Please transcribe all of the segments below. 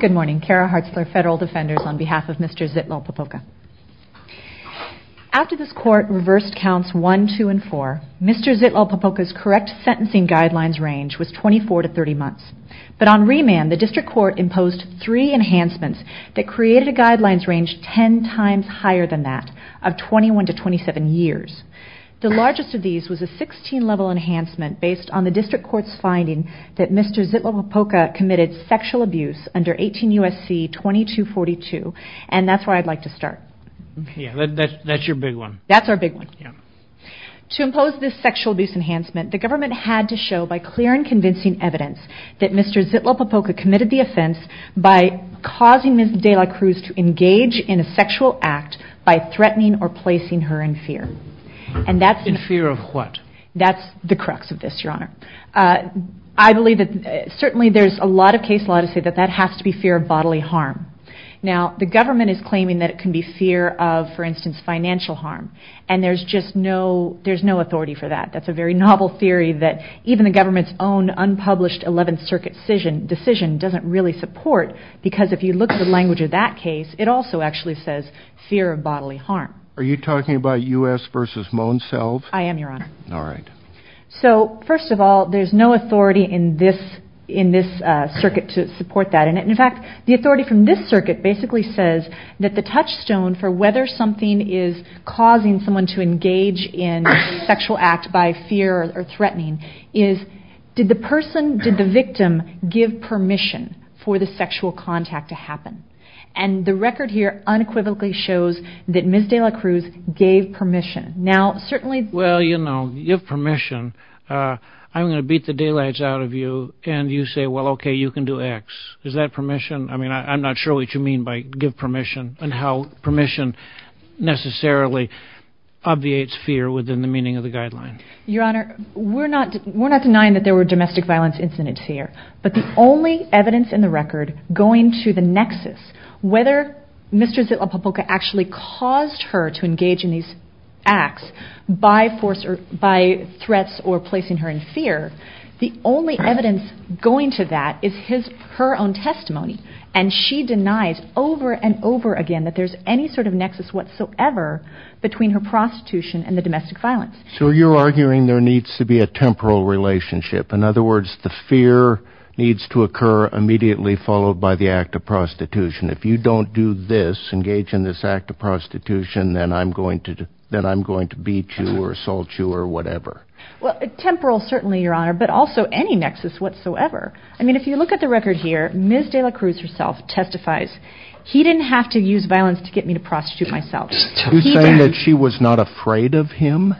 Good morning, Kara Hartzler, Federal Defenders, on behalf of Mr. Zitlalpopoca. After this court reversed counts 1, 2, and 4, Mr. Zitlalpopoca's correct sentencing guidelines range was 24 to 30 months. But on remand, the District Court imposed three enhancements that created a guidelines range 10 times higher than that, of 21 to 27 years. The largest of these was a 16-level enhancement based on the District Court's finding that Mr. Zitlalpopoca committed sexual abuse under 18 U.S.C. 2242, and that's where I'd like to start. Yeah, that's your big one. That's our big one. Yeah. To impose this sexual abuse enhancement, the government had to show by clear and convincing evidence that Mr. Zitlalpopoca committed the offense by causing Ms. de la Cruz to engage in a sexual act by threatening or placing her in fear. In fear of what? That's the crux of this, Your Honor. I believe that certainly there's a lot of case law to say that that has to be fear of bodily harm. Now, the government is claiming that it can be fear of, for instance, financial harm, and there's just no authority for that. That's a very novel theory that even the government's own unpublished 11th Circuit decision doesn't really support, because if you look at the language of that case, it also actually says fear of bodily harm. Are you talking about U.S. v. Monselv? I am, Your Honor. All right. So, first of all, there's no authority in this circuit to support that. In fact, the authority from this circuit basically says that the touchstone for whether something is causing someone to engage in a sexual act by fear or threatening is did the person, did the victim, give permission for the sexual contact to happen? And the record here unequivocally shows that Ms. de la Cruz gave permission. Now, certainly... Well, you know, you have permission. I'm going to beat the daylights out of you, and you say, well, okay, you can do X. Is that permission? I mean, I'm not sure what you mean by give permission and how permission necessarily obviates fear within the meaning of the guideline. Your Honor, we're not denying that there were domestic violence incidents here, but the only evidence in the record going to the nexus, whether Mr. de la Popoca actually caused her to engage in these acts by force or by threats or placing her in fear, the only evidence going to that is her own testimony. And she denies over and over again that there's any sort of nexus whatsoever between her prostitution and the domestic violence. So you're arguing there needs to be a temporal relationship. In other words, the fear needs to occur immediately followed by the act of prostitution. If you don't do this, engage in this act of prostitution, then I'm going to beat you or assault you or whatever. Well, temporal certainly, Your Honor, but also any nexus whatsoever. I mean, if you look at the record here, Ms. de la Cruz herself testifies, he didn't have to use violence to get me to prostitute myself. You're saying that she was not afraid of him?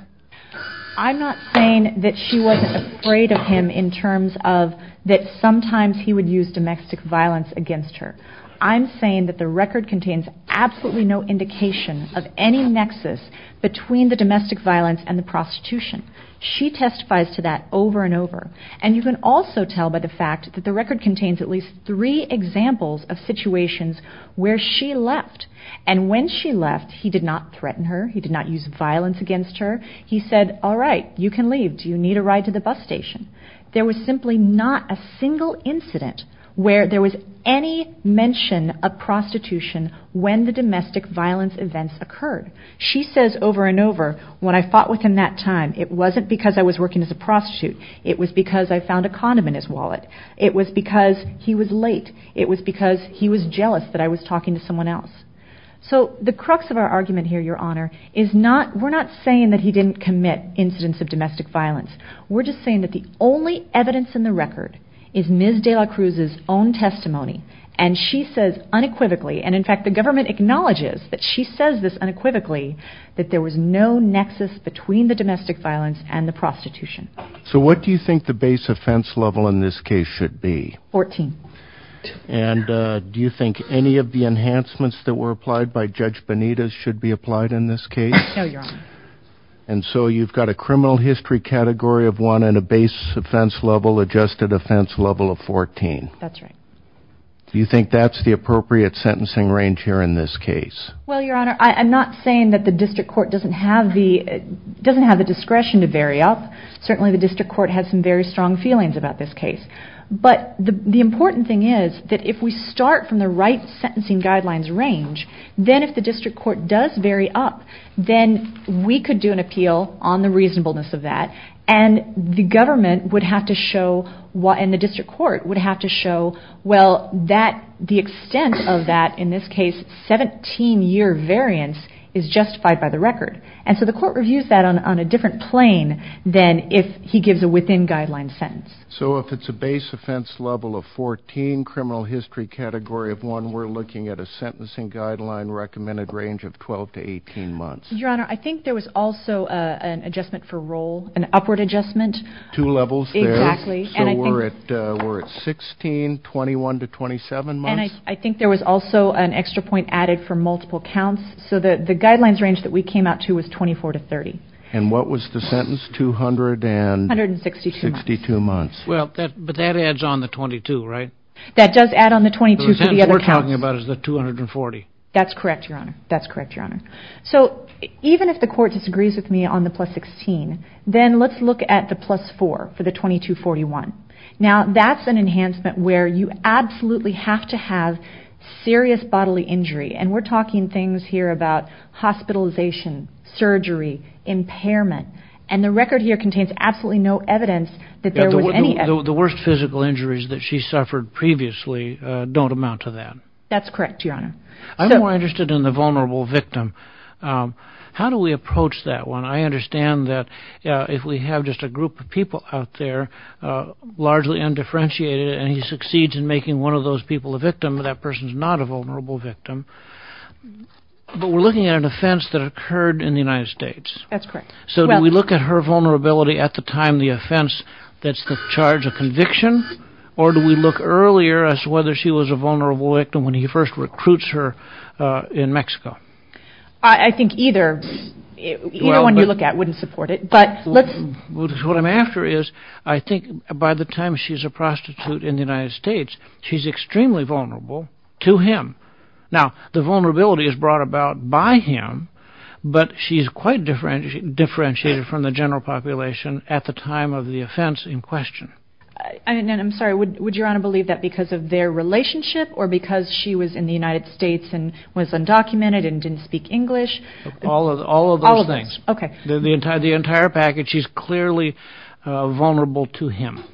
I'm not saying that she wasn't afraid of him in terms of that sometimes he would use domestic violence against her. I'm saying that the record contains absolutely no indication of any nexus between the domestic violence and the prostitution. She testifies to that over and over. And you can also tell by the fact that the record contains at least three examples of situations where she left. And when she left, he did not threaten her. He did not use violence against her. He said, all right, you can leave. Do you need a ride to the bus station? There was simply not a single incident where there was any mention of prostitution when the domestic violence events occurred. She says over and over, when I fought with him that time, it wasn't because I was working as a prostitute. It was because I found a condom in his wallet. It was because he was late. It was because he was jealous that I was talking to someone else. So the crux of our argument here, Your Honor, is we're not saying that he didn't commit incidents of domestic violence. We're just saying that the only evidence in the record is Ms. de la Cruz's own testimony. And she says unequivocally, and in fact the government acknowledges that she says this unequivocally, that there was no nexus between the domestic violence and the prostitution. So what do you think the base offense level in this case should be? Fourteen. And do you think any of the enhancements that were applied by Judge Benitez should be applied in this case? No, Your Honor. And so you've got a criminal history category of one and a base offense level adjusted offense level of 14. That's right. Do you think that's the appropriate sentencing range here in this case? Well, Your Honor, I'm not saying that the district court doesn't have the discretion to vary up. Certainly the district court has some very strong feelings about this case. But the important thing is that if we start from the right sentencing guidelines range, then if the district court does vary up, then we could do an appeal on the reasonableness of that, and the government would have to show, and the district court would have to show, well, the extent of that, in this case 17-year variance, is justified by the record. And so the court reviews that on a different plane than if he gives a within guidelines sentence. So if it's a base offense level of 14, criminal history category of one, we're looking at a sentencing guideline recommended range of 12 to 18 months. Your Honor, I think there was also an adjustment for roll, an upward adjustment. Two levels there. Exactly. So we're at 16, 21 to 27 months. And I think there was also an extra point added for multiple counts. So the guidelines range that we came out to was 24 to 30. And what was the sentence, 200 and? 162. 162 months. Well, but that adds on the 22, right? That does add on the 22 for the other counts. The sentence we're talking about is the 240. That's correct, Your Honor. That's correct, Your Honor. So even if the court disagrees with me on the plus 16, then let's look at the plus 4 for the 22-41. Now, that's an enhancement where you absolutely have to have serious bodily injury, and we're talking things here about hospitalization, surgery, impairment, and the record here contains absolutely no evidence that there was any evidence. The worst physical injuries that she suffered previously don't amount to that. That's correct, Your Honor. I'm more interested in the vulnerable victim. How do we approach that one? I understand that if we have just a group of people out there, largely undifferentiated, and he succeeds in making one of those people a victim, that person's not a vulnerable victim. But we're looking at an offense that occurred in the United States. That's correct. So do we look at her vulnerability at the time of the offense that's the charge of conviction, or do we look earlier as to whether she was a vulnerable victim when he first recruits her in Mexico? I think either one you look at wouldn't support it. What I'm after is I think by the time she's a prostitute in the United States, she's extremely vulnerable to him. Now, the vulnerability is brought about by him, but she's quite differentiated from the general population at the time of the offense in question. I'm sorry, would Your Honor believe that because of their relationship or because she was in the United States and was undocumented and didn't speak English? All of those things. Okay. The entire package, she's clearly vulnerable to him.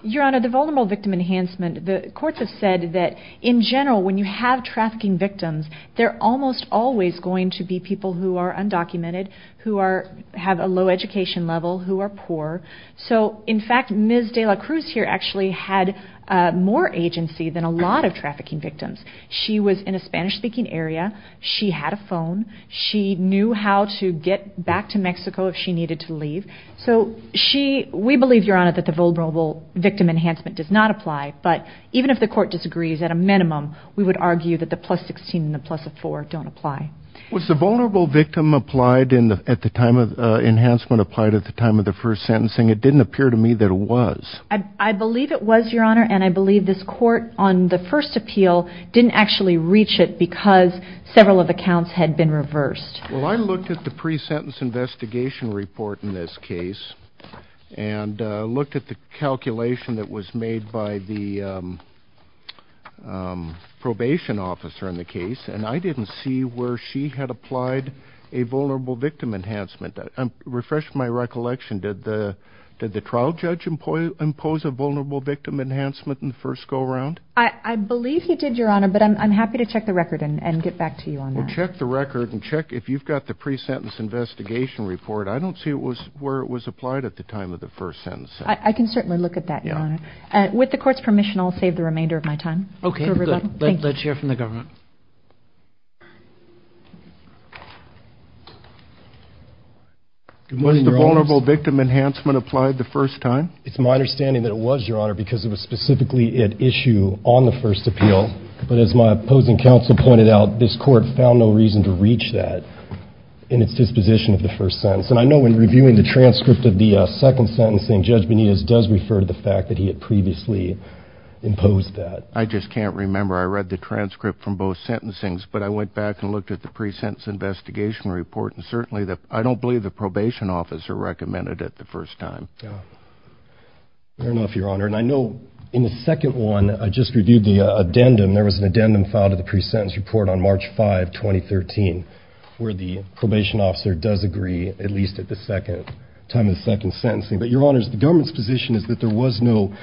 Your Honor, the vulnerable victim enhancement, the courts have said that in general when you have trafficking victims, they're almost always going to be people who are undocumented, who have a low education level, who are poor. So in fact, Ms. de la Cruz here actually had more agency than a lot of trafficking victims. She was in a Spanish-speaking area. She had a phone. She knew how to get back to Mexico if she needed to leave. So we believe, Your Honor, that the vulnerable victim enhancement does not apply, but even if the court disagrees, at a minimum, we would argue that the plus 16 and the plus of four don't apply. Was the vulnerable victim enhancement applied at the time of the first sentencing? It didn't appear to me that it was. I believe it was, Your Honor, and I believe this court on the first appeal didn't actually reach it because several of the counts had been reversed. Well, I looked at the pre-sentence investigation report in this case and looked at the calculation that was made by the probation officer in the case, and I didn't see where she had applied a vulnerable victim enhancement. I'm refreshing my recollection. Did the trial judge impose a vulnerable victim enhancement in the first go-around? I believe he did, Your Honor, but I'm happy to check the record and get back to you on that. Check the record and check if you've got the pre-sentence investigation report. I don't see where it was applied at the time of the first sentencing. I can certainly look at that, Your Honor. With the court's permission, I'll save the remainder of my time for rebuttal. Okay, good. Let's hear from the government. Was the vulnerable victim enhancement applied the first time? It's my understanding that it was, Your Honor, because it was specifically at issue on the first appeal, but as my opposing counsel pointed out, this court found no reason to reach that in its disposition of the first sentence. And I know when reviewing the transcript of the second sentencing, Judge Benitez does refer to the fact that he had previously imposed that. I just can't remember. I read the transcript from both sentencings, but I went back and looked at the pre-sentence investigation report, and certainly I don't believe the probation officer recommended it the first time. Fair enough, Your Honor. And I know in the second one, I just reviewed the addendum. There was an addendum filed to the pre-sentence report on March 5, 2013, where the probation officer does agree, at least at the time of the second sentencing. But, Your Honors, the government's position is that there was no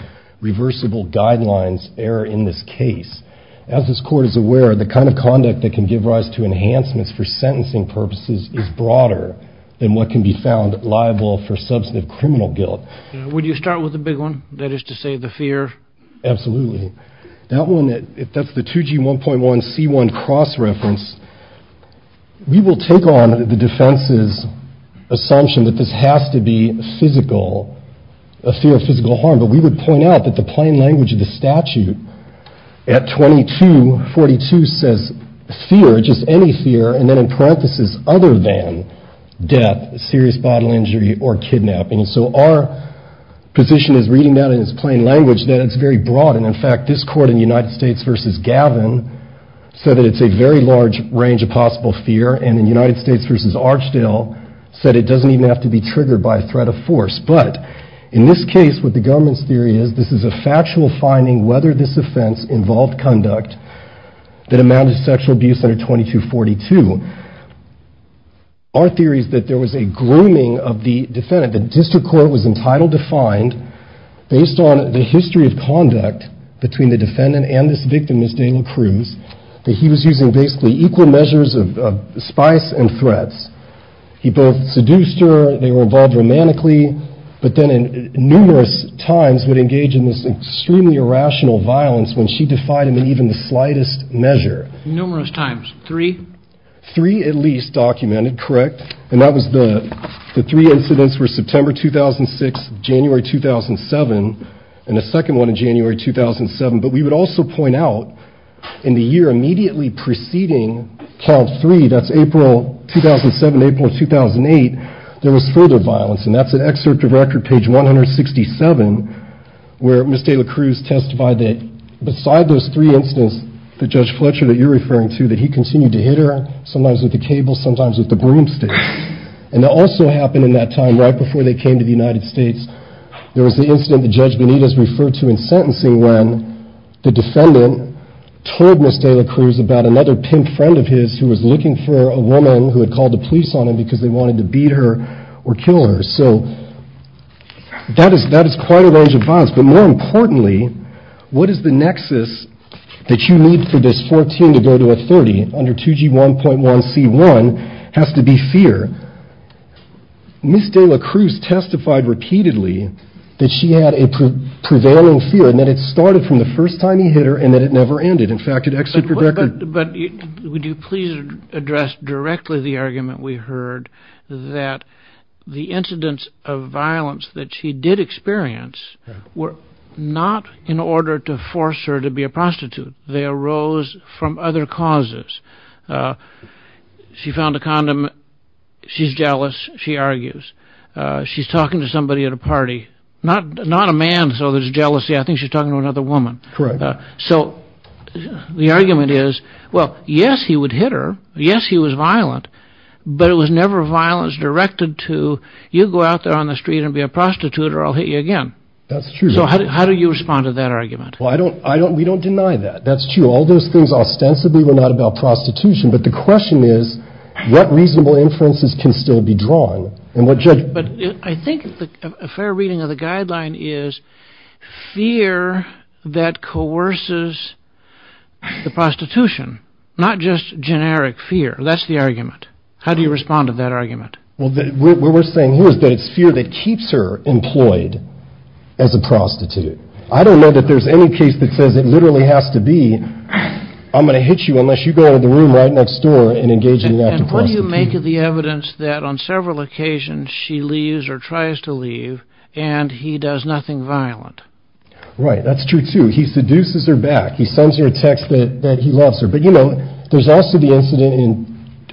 reversible guidelines error in this case. As this court is aware, the kind of conduct that can give rise to enhancements for sentencing purposes is broader than what can be found liable for substantive criminal guilt. Would you start with the big one, that is to say the fear? Absolutely. That one, if that's the 2G1.1C1 cross-reference, we will take on the defense's assumption that this has to be physical, a fear of physical harm. But we would point out that the plain language of the statute at 2242 says fear, just any fear, and then in parenthesis, other than death, serious bodily injury, or kidnapping. So our position is, reading that in its plain language, that it's very broad. And, in fact, this court in the United States v. Gavin said that it's a very large range of possible fear, and in the United States v. Archdale said it doesn't even have to be triggered by a threat of force. But in this case, what the government's theory is, this is a factual finding, whether this offense involved conduct that amounted to sexual abuse under 2242. Our theory is that there was a grooming of the defendant. The district court was entitled to find, based on the history of conduct between the defendant and this victim, Ms. Dayla Cruz, that he was using basically equal measures of spice and threats. He both seduced her, they were involved romantically, but then numerous times would engage in this extremely irrational violence when she defied him in even the slightest measure. Numerous times. Three? Three, at least, documented, correct. And that was the three incidents were September 2006, January 2007, and the second one in January 2007. But we would also point out, in the year immediately preceding child three, that's April 2007, April 2008, there was further violence, and that's an excerpt of record, page 167, where Ms. Dayla Cruz testified that, beside those three incidents that Judge Fletcher, that you're referring to, that he continued to hit her, sometimes with the cable, sometimes with the broomstick. And that also happened in that time, right before they came to the United States, there was the incident that Judge Benitez referred to in sentencing when the defendant told Ms. Dayla Cruz about another pimp friend of his who was looking for a woman who had called the police on him because they wanted to beat her or kill her. So that is quite a range of violence. But more importantly, what is the nexus that you need for this 14 to go to a 30 under 2G1.1C1 has to be fear. Ms. Dayla Cruz testified repeatedly that she had a prevailing fear and that it started from the first time he hit her and that it never ended. In fact, an excerpt from record. But would you please address directly the argument we heard that the incidents of violence that she did experience were not in order to force her to be a prostitute. They arose from other causes. She found a condom. She's jealous. She argues. She's talking to somebody at a party, not a man. So there's jealousy. I think she's talking to another woman. So the argument is, well, yes, he would hit her. Yes, he was violent, but it was never violence directed to you. Go out there on the street and be a prostitute or I'll hit you again. That's true. How do you respond to that argument? Well, I don't I don't. We don't deny that. That's true. All those things ostensibly were not about prostitution. But the question is what reasonable inferences can still be drawn. But I think a fair reading of the guideline is fear that coerces the prostitution, not just generic fear. That's the argument. How do you respond to that argument? Well, we're saying here is that it's fear that keeps her employed as a prostitute. I don't know that there's any case that says it literally has to be. I'm going to hit you unless you go to the room right next door and engage in that. What do you make of the evidence that on several occasions she leaves or tries to leave and he does nothing violent? Right. That's true, too. He seduces her back. He sends her a text that he loves her. But, you know, there's also the incident in,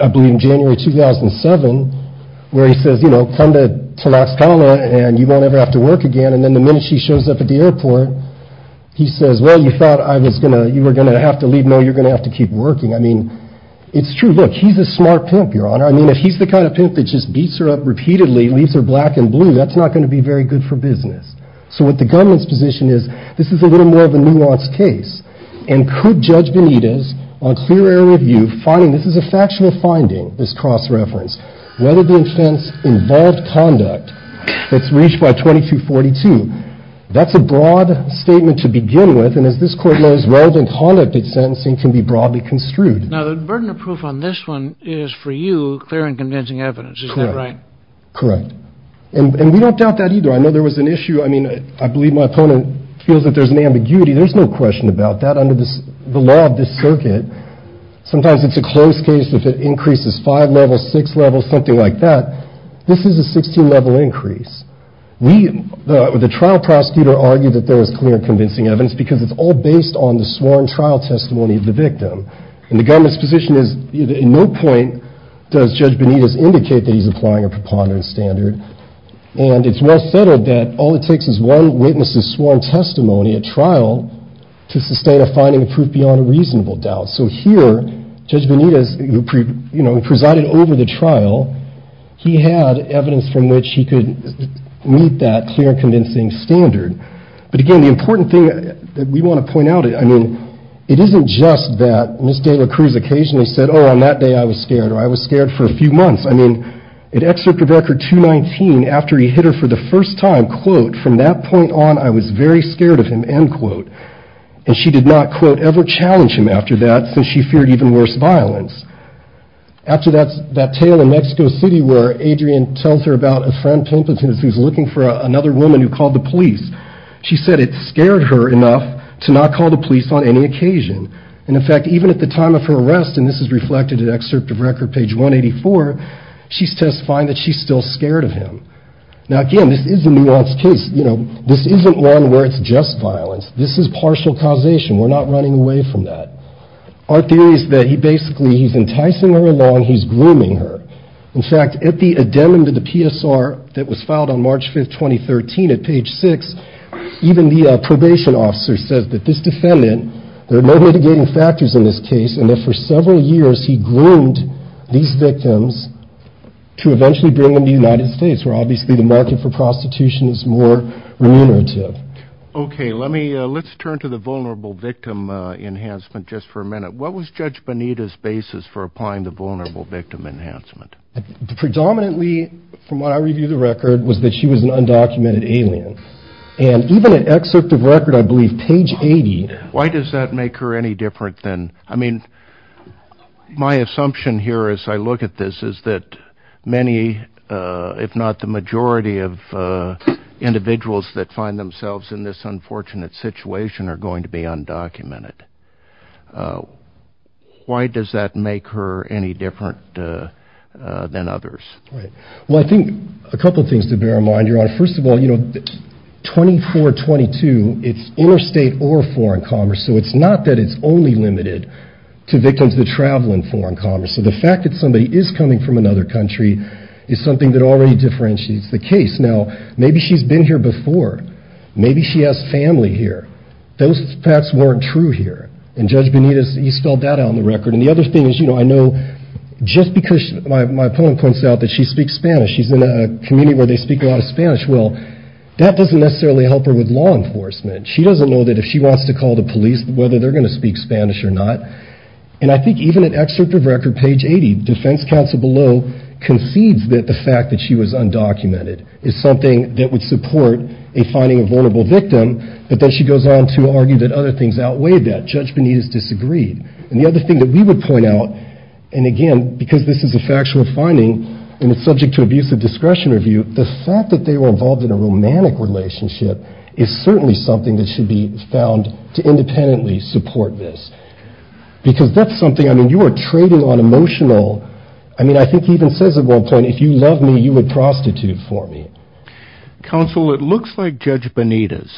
I believe, January 2007, where he says, you know, come to Tlaxcala and you won't ever have to work again. And then the minute she shows up at the airport, he says, well, you thought I was going to you were going to have to leave. No, you're going to have to keep working. I mean, it's true. Look, he's a smart pimp, Your Honor. I mean, if he's the kind of pimp that just beats her up repeatedly, leaves her black and blue, that's not going to be very good for business. So what the gunman's position is, this is a little more of a nuanced case. And could Judge Benitez, on clear error of view, finding this is a factual finding, this cross-reference, whether the offense involved conduct that's reached by 2242. That's a broad statement to begin with. And as this Court knows, relevant conduct at sentencing can be broadly construed. Now, the burden of proof on this one is, for you, clear and convincing evidence. Is that right? Correct. And we don't doubt that either. I know there was an issue. I mean, I believe my opponent feels that there's an ambiguity. There's no question about that. Under the law of this circuit, sometimes it's a close case if it increases five levels, six levels, something like that. This is a 16 level increase. The trial prosecutor argued that there was clear and convincing evidence because it's all based on the sworn trial testimony of the victim. And the government's position is, at no point does Judge Benitez indicate that he's applying a preponderance standard. And it's well settled that all it takes is one witness's sworn testimony at trial to sustain a finding of proof beyond a reasonable doubt. So here, Judge Benitez, who presided over the trial, he had evidence from which he could meet that clear and convincing standard. But again, the important thing that we want to point out, I mean, it isn't just that Ms. De La Cruz occasionally said, oh, on that day I was scared, or I was scared for a few months. I mean, in Excerpt of Record 219, after he hit her for the first time, quote, from that point on, I was very scared of him, end quote. And she did not, quote, ever challenge him after that since she feared even worse violence. After that tale in Mexico City where Adrian tells her about a friend, Pimpleton, who's looking for another woman who called the police, she said it scared her enough to not call the police on any occasion. And in fact, even at the time of her arrest, and this is reflected in Excerpt of Record page 184, she's testifying that she's still scared of him. Now, again, this is a nuanced case. You know, this isn't one where it's just violence. This is partial causation. We're not running away from that. Our theory is that he basically, he's enticing her along, he's grooming her. In fact, at the addendum to the PSR that was filed on March 5, 2013, at page 6, even the probation officer says that this defendant, there are no mitigating factors in this case, and that for several years he groomed these victims to eventually bring them to the United States, where obviously the market for prostitution is more remunerative. Okay, let's turn to the vulnerable victim enhancement just for a minute. What was Judge Bonita's basis for applying the vulnerable victim enhancement? Predominantly, from what I review the record, was that she was an undocumented alien. And even at Excerpt of Record, I believe, page 80... Why does that make her any different than... I mean, my assumption here as I look at this is that many, if not the majority of individuals that find themselves in this unfortunate situation are going to be undocumented. Why does that make her any different than others? Well, I think a couple things to bear in mind, Your Honor. First of all, 24-22, it's interstate or foreign commerce, so it's not that it's only limited to victims that travel in foreign commerce. So the fact that somebody is coming from another country is something that already differentiates the case. Now, maybe she's been here before. Maybe she has family here. Those facts weren't true here. And Judge Bonita, you spelled that out on the record. And the other thing is, you know, I know just because my opponent points out that she speaks Spanish, she's in a community where they speak a lot of Spanish. Well, that doesn't necessarily help her with law enforcement. She doesn't know that if she wants to call the police, whether they're going to speak Spanish or not. And I think even at Excerpt of Record, page 80, defense counsel below concedes that the fact that she was undocumented is something that would support a finding of vulnerable victim. But then she goes on to argue that other things outweigh that. Judge Bonita's disagreed. And the other thing that we would point out, and again, because this is a factual finding and it's subject to abusive discretion review, the fact that they were involved in a romantic relationship is certainly something that should be found to independently support this. Because that's something, I mean, you are trading on emotional, I mean, I think he even says at one point, if you love me, you would prostitute for me. Counsel, it looks like Judge Bonita's.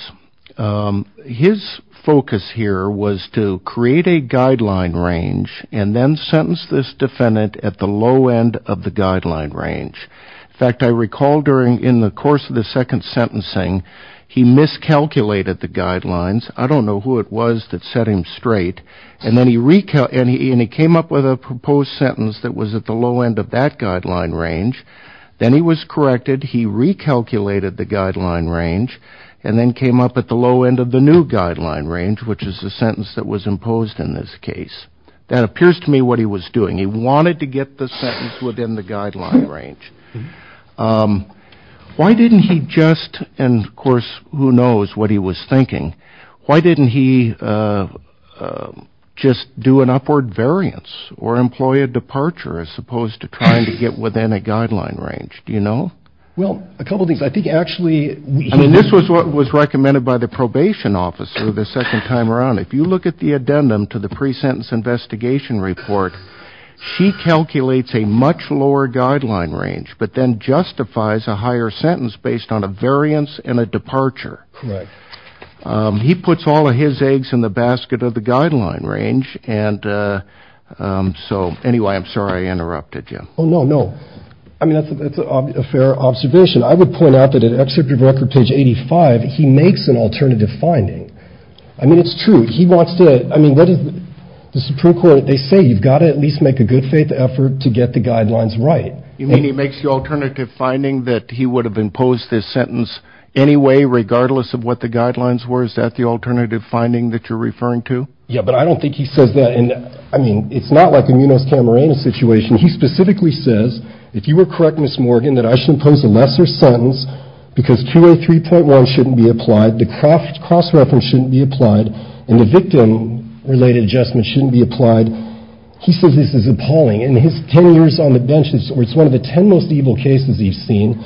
His focus here was to create a guideline range and then sentence this defendant at the low end of the guideline range. In fact, I recall during the course of the second sentencing, he miscalculated the guidelines. I don't know who it was that set him straight. And then he came up with a proposed sentence that was at the low end of that guideline range. Then he was corrected. He recalculated the guideline range and then came up at the low end of the new guideline range, which is the sentence that was imposed in this case. That appears to me what he was doing. He wanted to get the sentence within the guideline range. Why didn't he just and of course, who knows what he was thinking? Why didn't he just do an upward variance or employ a departure as opposed to trying to get within a guideline range? Do you know? Well, a couple of things. I think actually, I mean, this was what was recommended by the probation officer the second time around. If you look at the addendum to the pre-sentence investigation report, she calculates a much lower guideline range, but then justifies a higher sentence based on a variance and a departure. Right. He puts all of his eggs in the basket of the guideline range. And so anyway, I'm sorry I interrupted you. Oh, no, no. I mean, that's a fair observation. I would point out that an excerpt of record page eighty five. He makes an alternative finding. I mean, it's true. He wants to. I mean, that is the Supreme Court. They say you've got to at least make a good faith effort to get the guidelines right. You mean he makes the alternative finding that he would have imposed this sentence anyway, regardless of what the guidelines were? Is that the alternative finding that you're referring to? Yeah, but I don't think he says that. And I mean, it's not like a Camarena situation. He specifically says, if you were correct, Miss Morgan, that I should impose a lesser sentence because two or three point one shouldn't be applied. The craft cross reference shouldn't be applied in the victim related adjustment shouldn't be applied. He says this is appalling in his ten years on the benches. It's one of the ten most evil cases he's seen.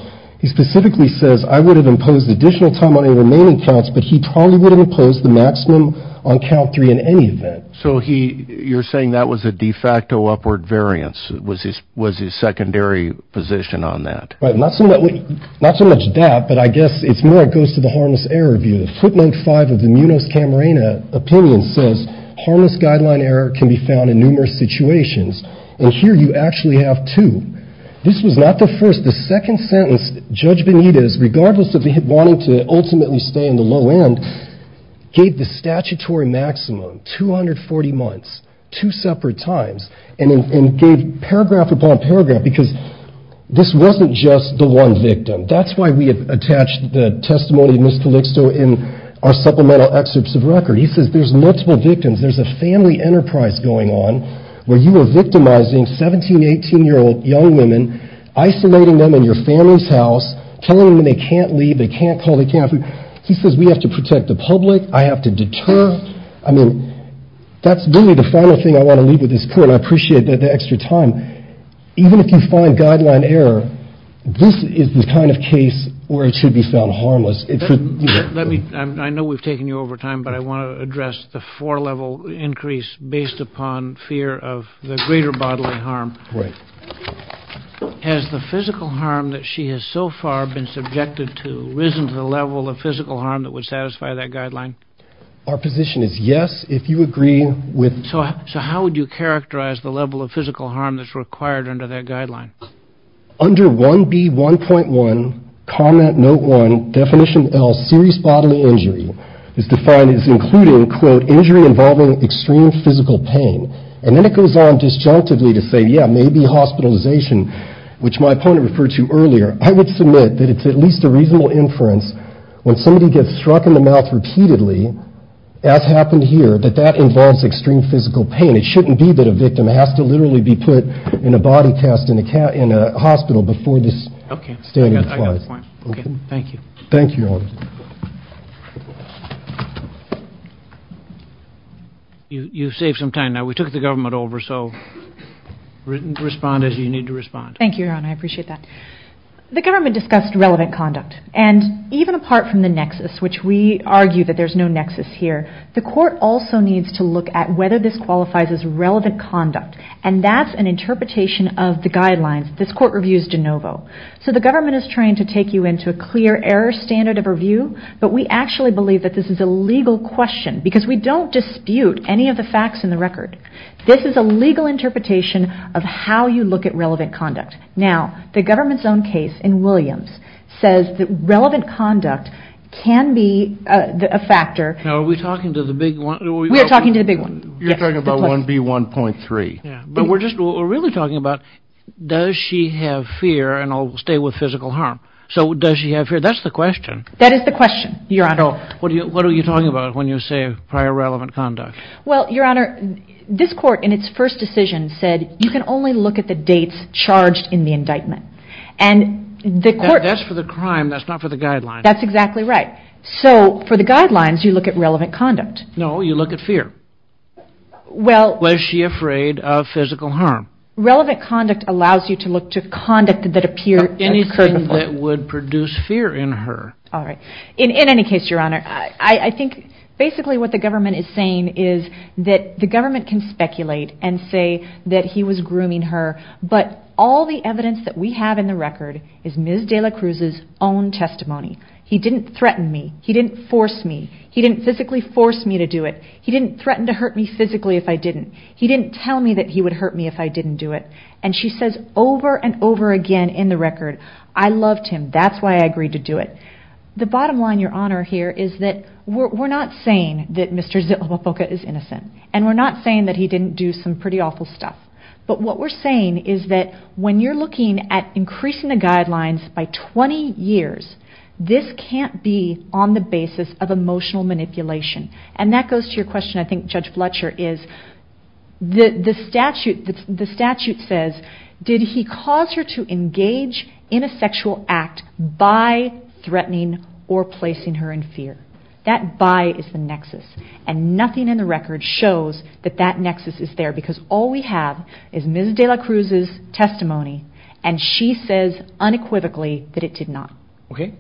He specifically says I would have imposed additional time on the remaining counts, but he probably would have imposed the maximum on count three in any event. So he you're saying that was a de facto upward variance. It was his was his secondary position on that. But not so much. Not so much that. But I guess it's more it goes to the harmless error view. Footnote five of the Munoz Camarena opinion says harmless guideline error can be found in numerous situations. And here you actually have to. This was not the first. The second sentence, Judge Benitez, regardless of wanting to ultimately stay in the low end, gave the statutory maximum two hundred forty months, two separate times. And it gave paragraph upon paragraph because this wasn't just the one victim. That's why we have attached the testimony of Mr. Lickstone in our supplemental excerpts of record. He says there's multiple victims. There's a family enterprise going on where you are victimizing 17, 18 year old young women, isolating them in your family's house, telling them they can't leave. They can't call. They can't. He says we have to protect the public. I have to deter. I mean, that's really the final thing I want to leave with this court. I appreciate the extra time. Even if you find guideline error, this is the kind of case where it should be found harmless. Let me. I know we've taken you over time, but I want to address the four level increase based upon fear of the greater bodily harm. Right. Has the physical harm that she has so far been subjected to risen to the level of physical harm that would satisfy that guideline? Our position is yes. If you agree with. So. So how would you characterize the level of physical harm that's required under that guideline? Under one B, one point one comment. Note one definition. All serious bodily injury is defined as including, quote, injury involving extreme physical pain. And then it goes on disjunctively to say, yeah, maybe hospitalization, which my opponent referred to earlier. I would submit that it's at least a reasonable inference. When somebody gets struck in the mouth repeatedly, as happened here, that that involves extreme physical pain. It shouldn't be that a victim has to literally be put in a body cast in a cat in a hospital before this. OK, thank you. Thank you. You save some time now. So respond as you need to respond. Thank you. I appreciate that. The government discussed relevant conduct and even apart from the nexus, which we argue that there's no nexus here. The court also needs to look at whether this qualifies as relevant conduct. And that's an interpretation of the guidelines. This court reviews de novo. So the government is trying to take you into a clear error standard of review. But we actually believe that this is a legal question because we don't dispute any of the facts in the record. This is a legal interpretation of how you look at relevant conduct. Now, the government's own case in Williams says that relevant conduct can be a factor. Now, are we talking to the big one? We are talking to the big one. You're talking about 1B1.3. But we're just really talking about does she have fear and stay with physical harm? So does she have fear? That's the question. That is the question, Your Honor. What are you talking about when you say prior relevant conduct? Well, Your Honor, this court in its first decision said you can only look at the dates charged in the indictment. That's for the crime. That's not for the guidelines. That's exactly right. So for the guidelines, you look at relevant conduct. No, you look at fear. Was she afraid of physical harm? Relevant conduct allows you to look to conduct that appears to occur before. Anything that would produce fear in her. All right. In any case, Your Honor, I think basically what the government is saying is that the government can speculate and say that he was grooming her, but all the evidence that we have in the record is Ms. De La Cruz's own testimony. He didn't threaten me. He didn't force me. He didn't physically force me to do it. He didn't threaten to hurt me physically if I didn't. He didn't tell me that he would hurt me if I didn't do it. And she says over and over again in the record, I loved him. That's why I agreed to do it. The bottom line, Your Honor, here is that we're not saying that Mr. Zitlobufoka is innocent. And we're not saying that he didn't do some pretty awful stuff. But what we're saying is that when you're looking at increasing the guidelines by 20 years, this can't be on the basis of emotional manipulation. And that goes to your question, I think, Judge Fletcher, is the statute says, did he cause her to engage in a sexual act by threatening or placing her in fear? That by is the nexus. And nothing in the record shows that that nexus is there because all we have is Ms. De La Cruz's testimony. And she says unequivocally that it did not. Okay.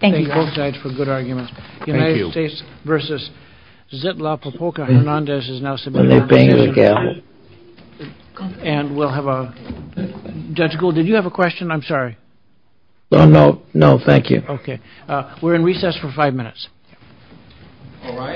Thank you. Both sides for good arguments. Thank you. United States versus Zitlobufoka. Hernandez is now. And we'll have a judge. Cool. Did you have a question? I'm sorry. No, no, no. Thank you. Okay. We're in recess for five minutes. All right.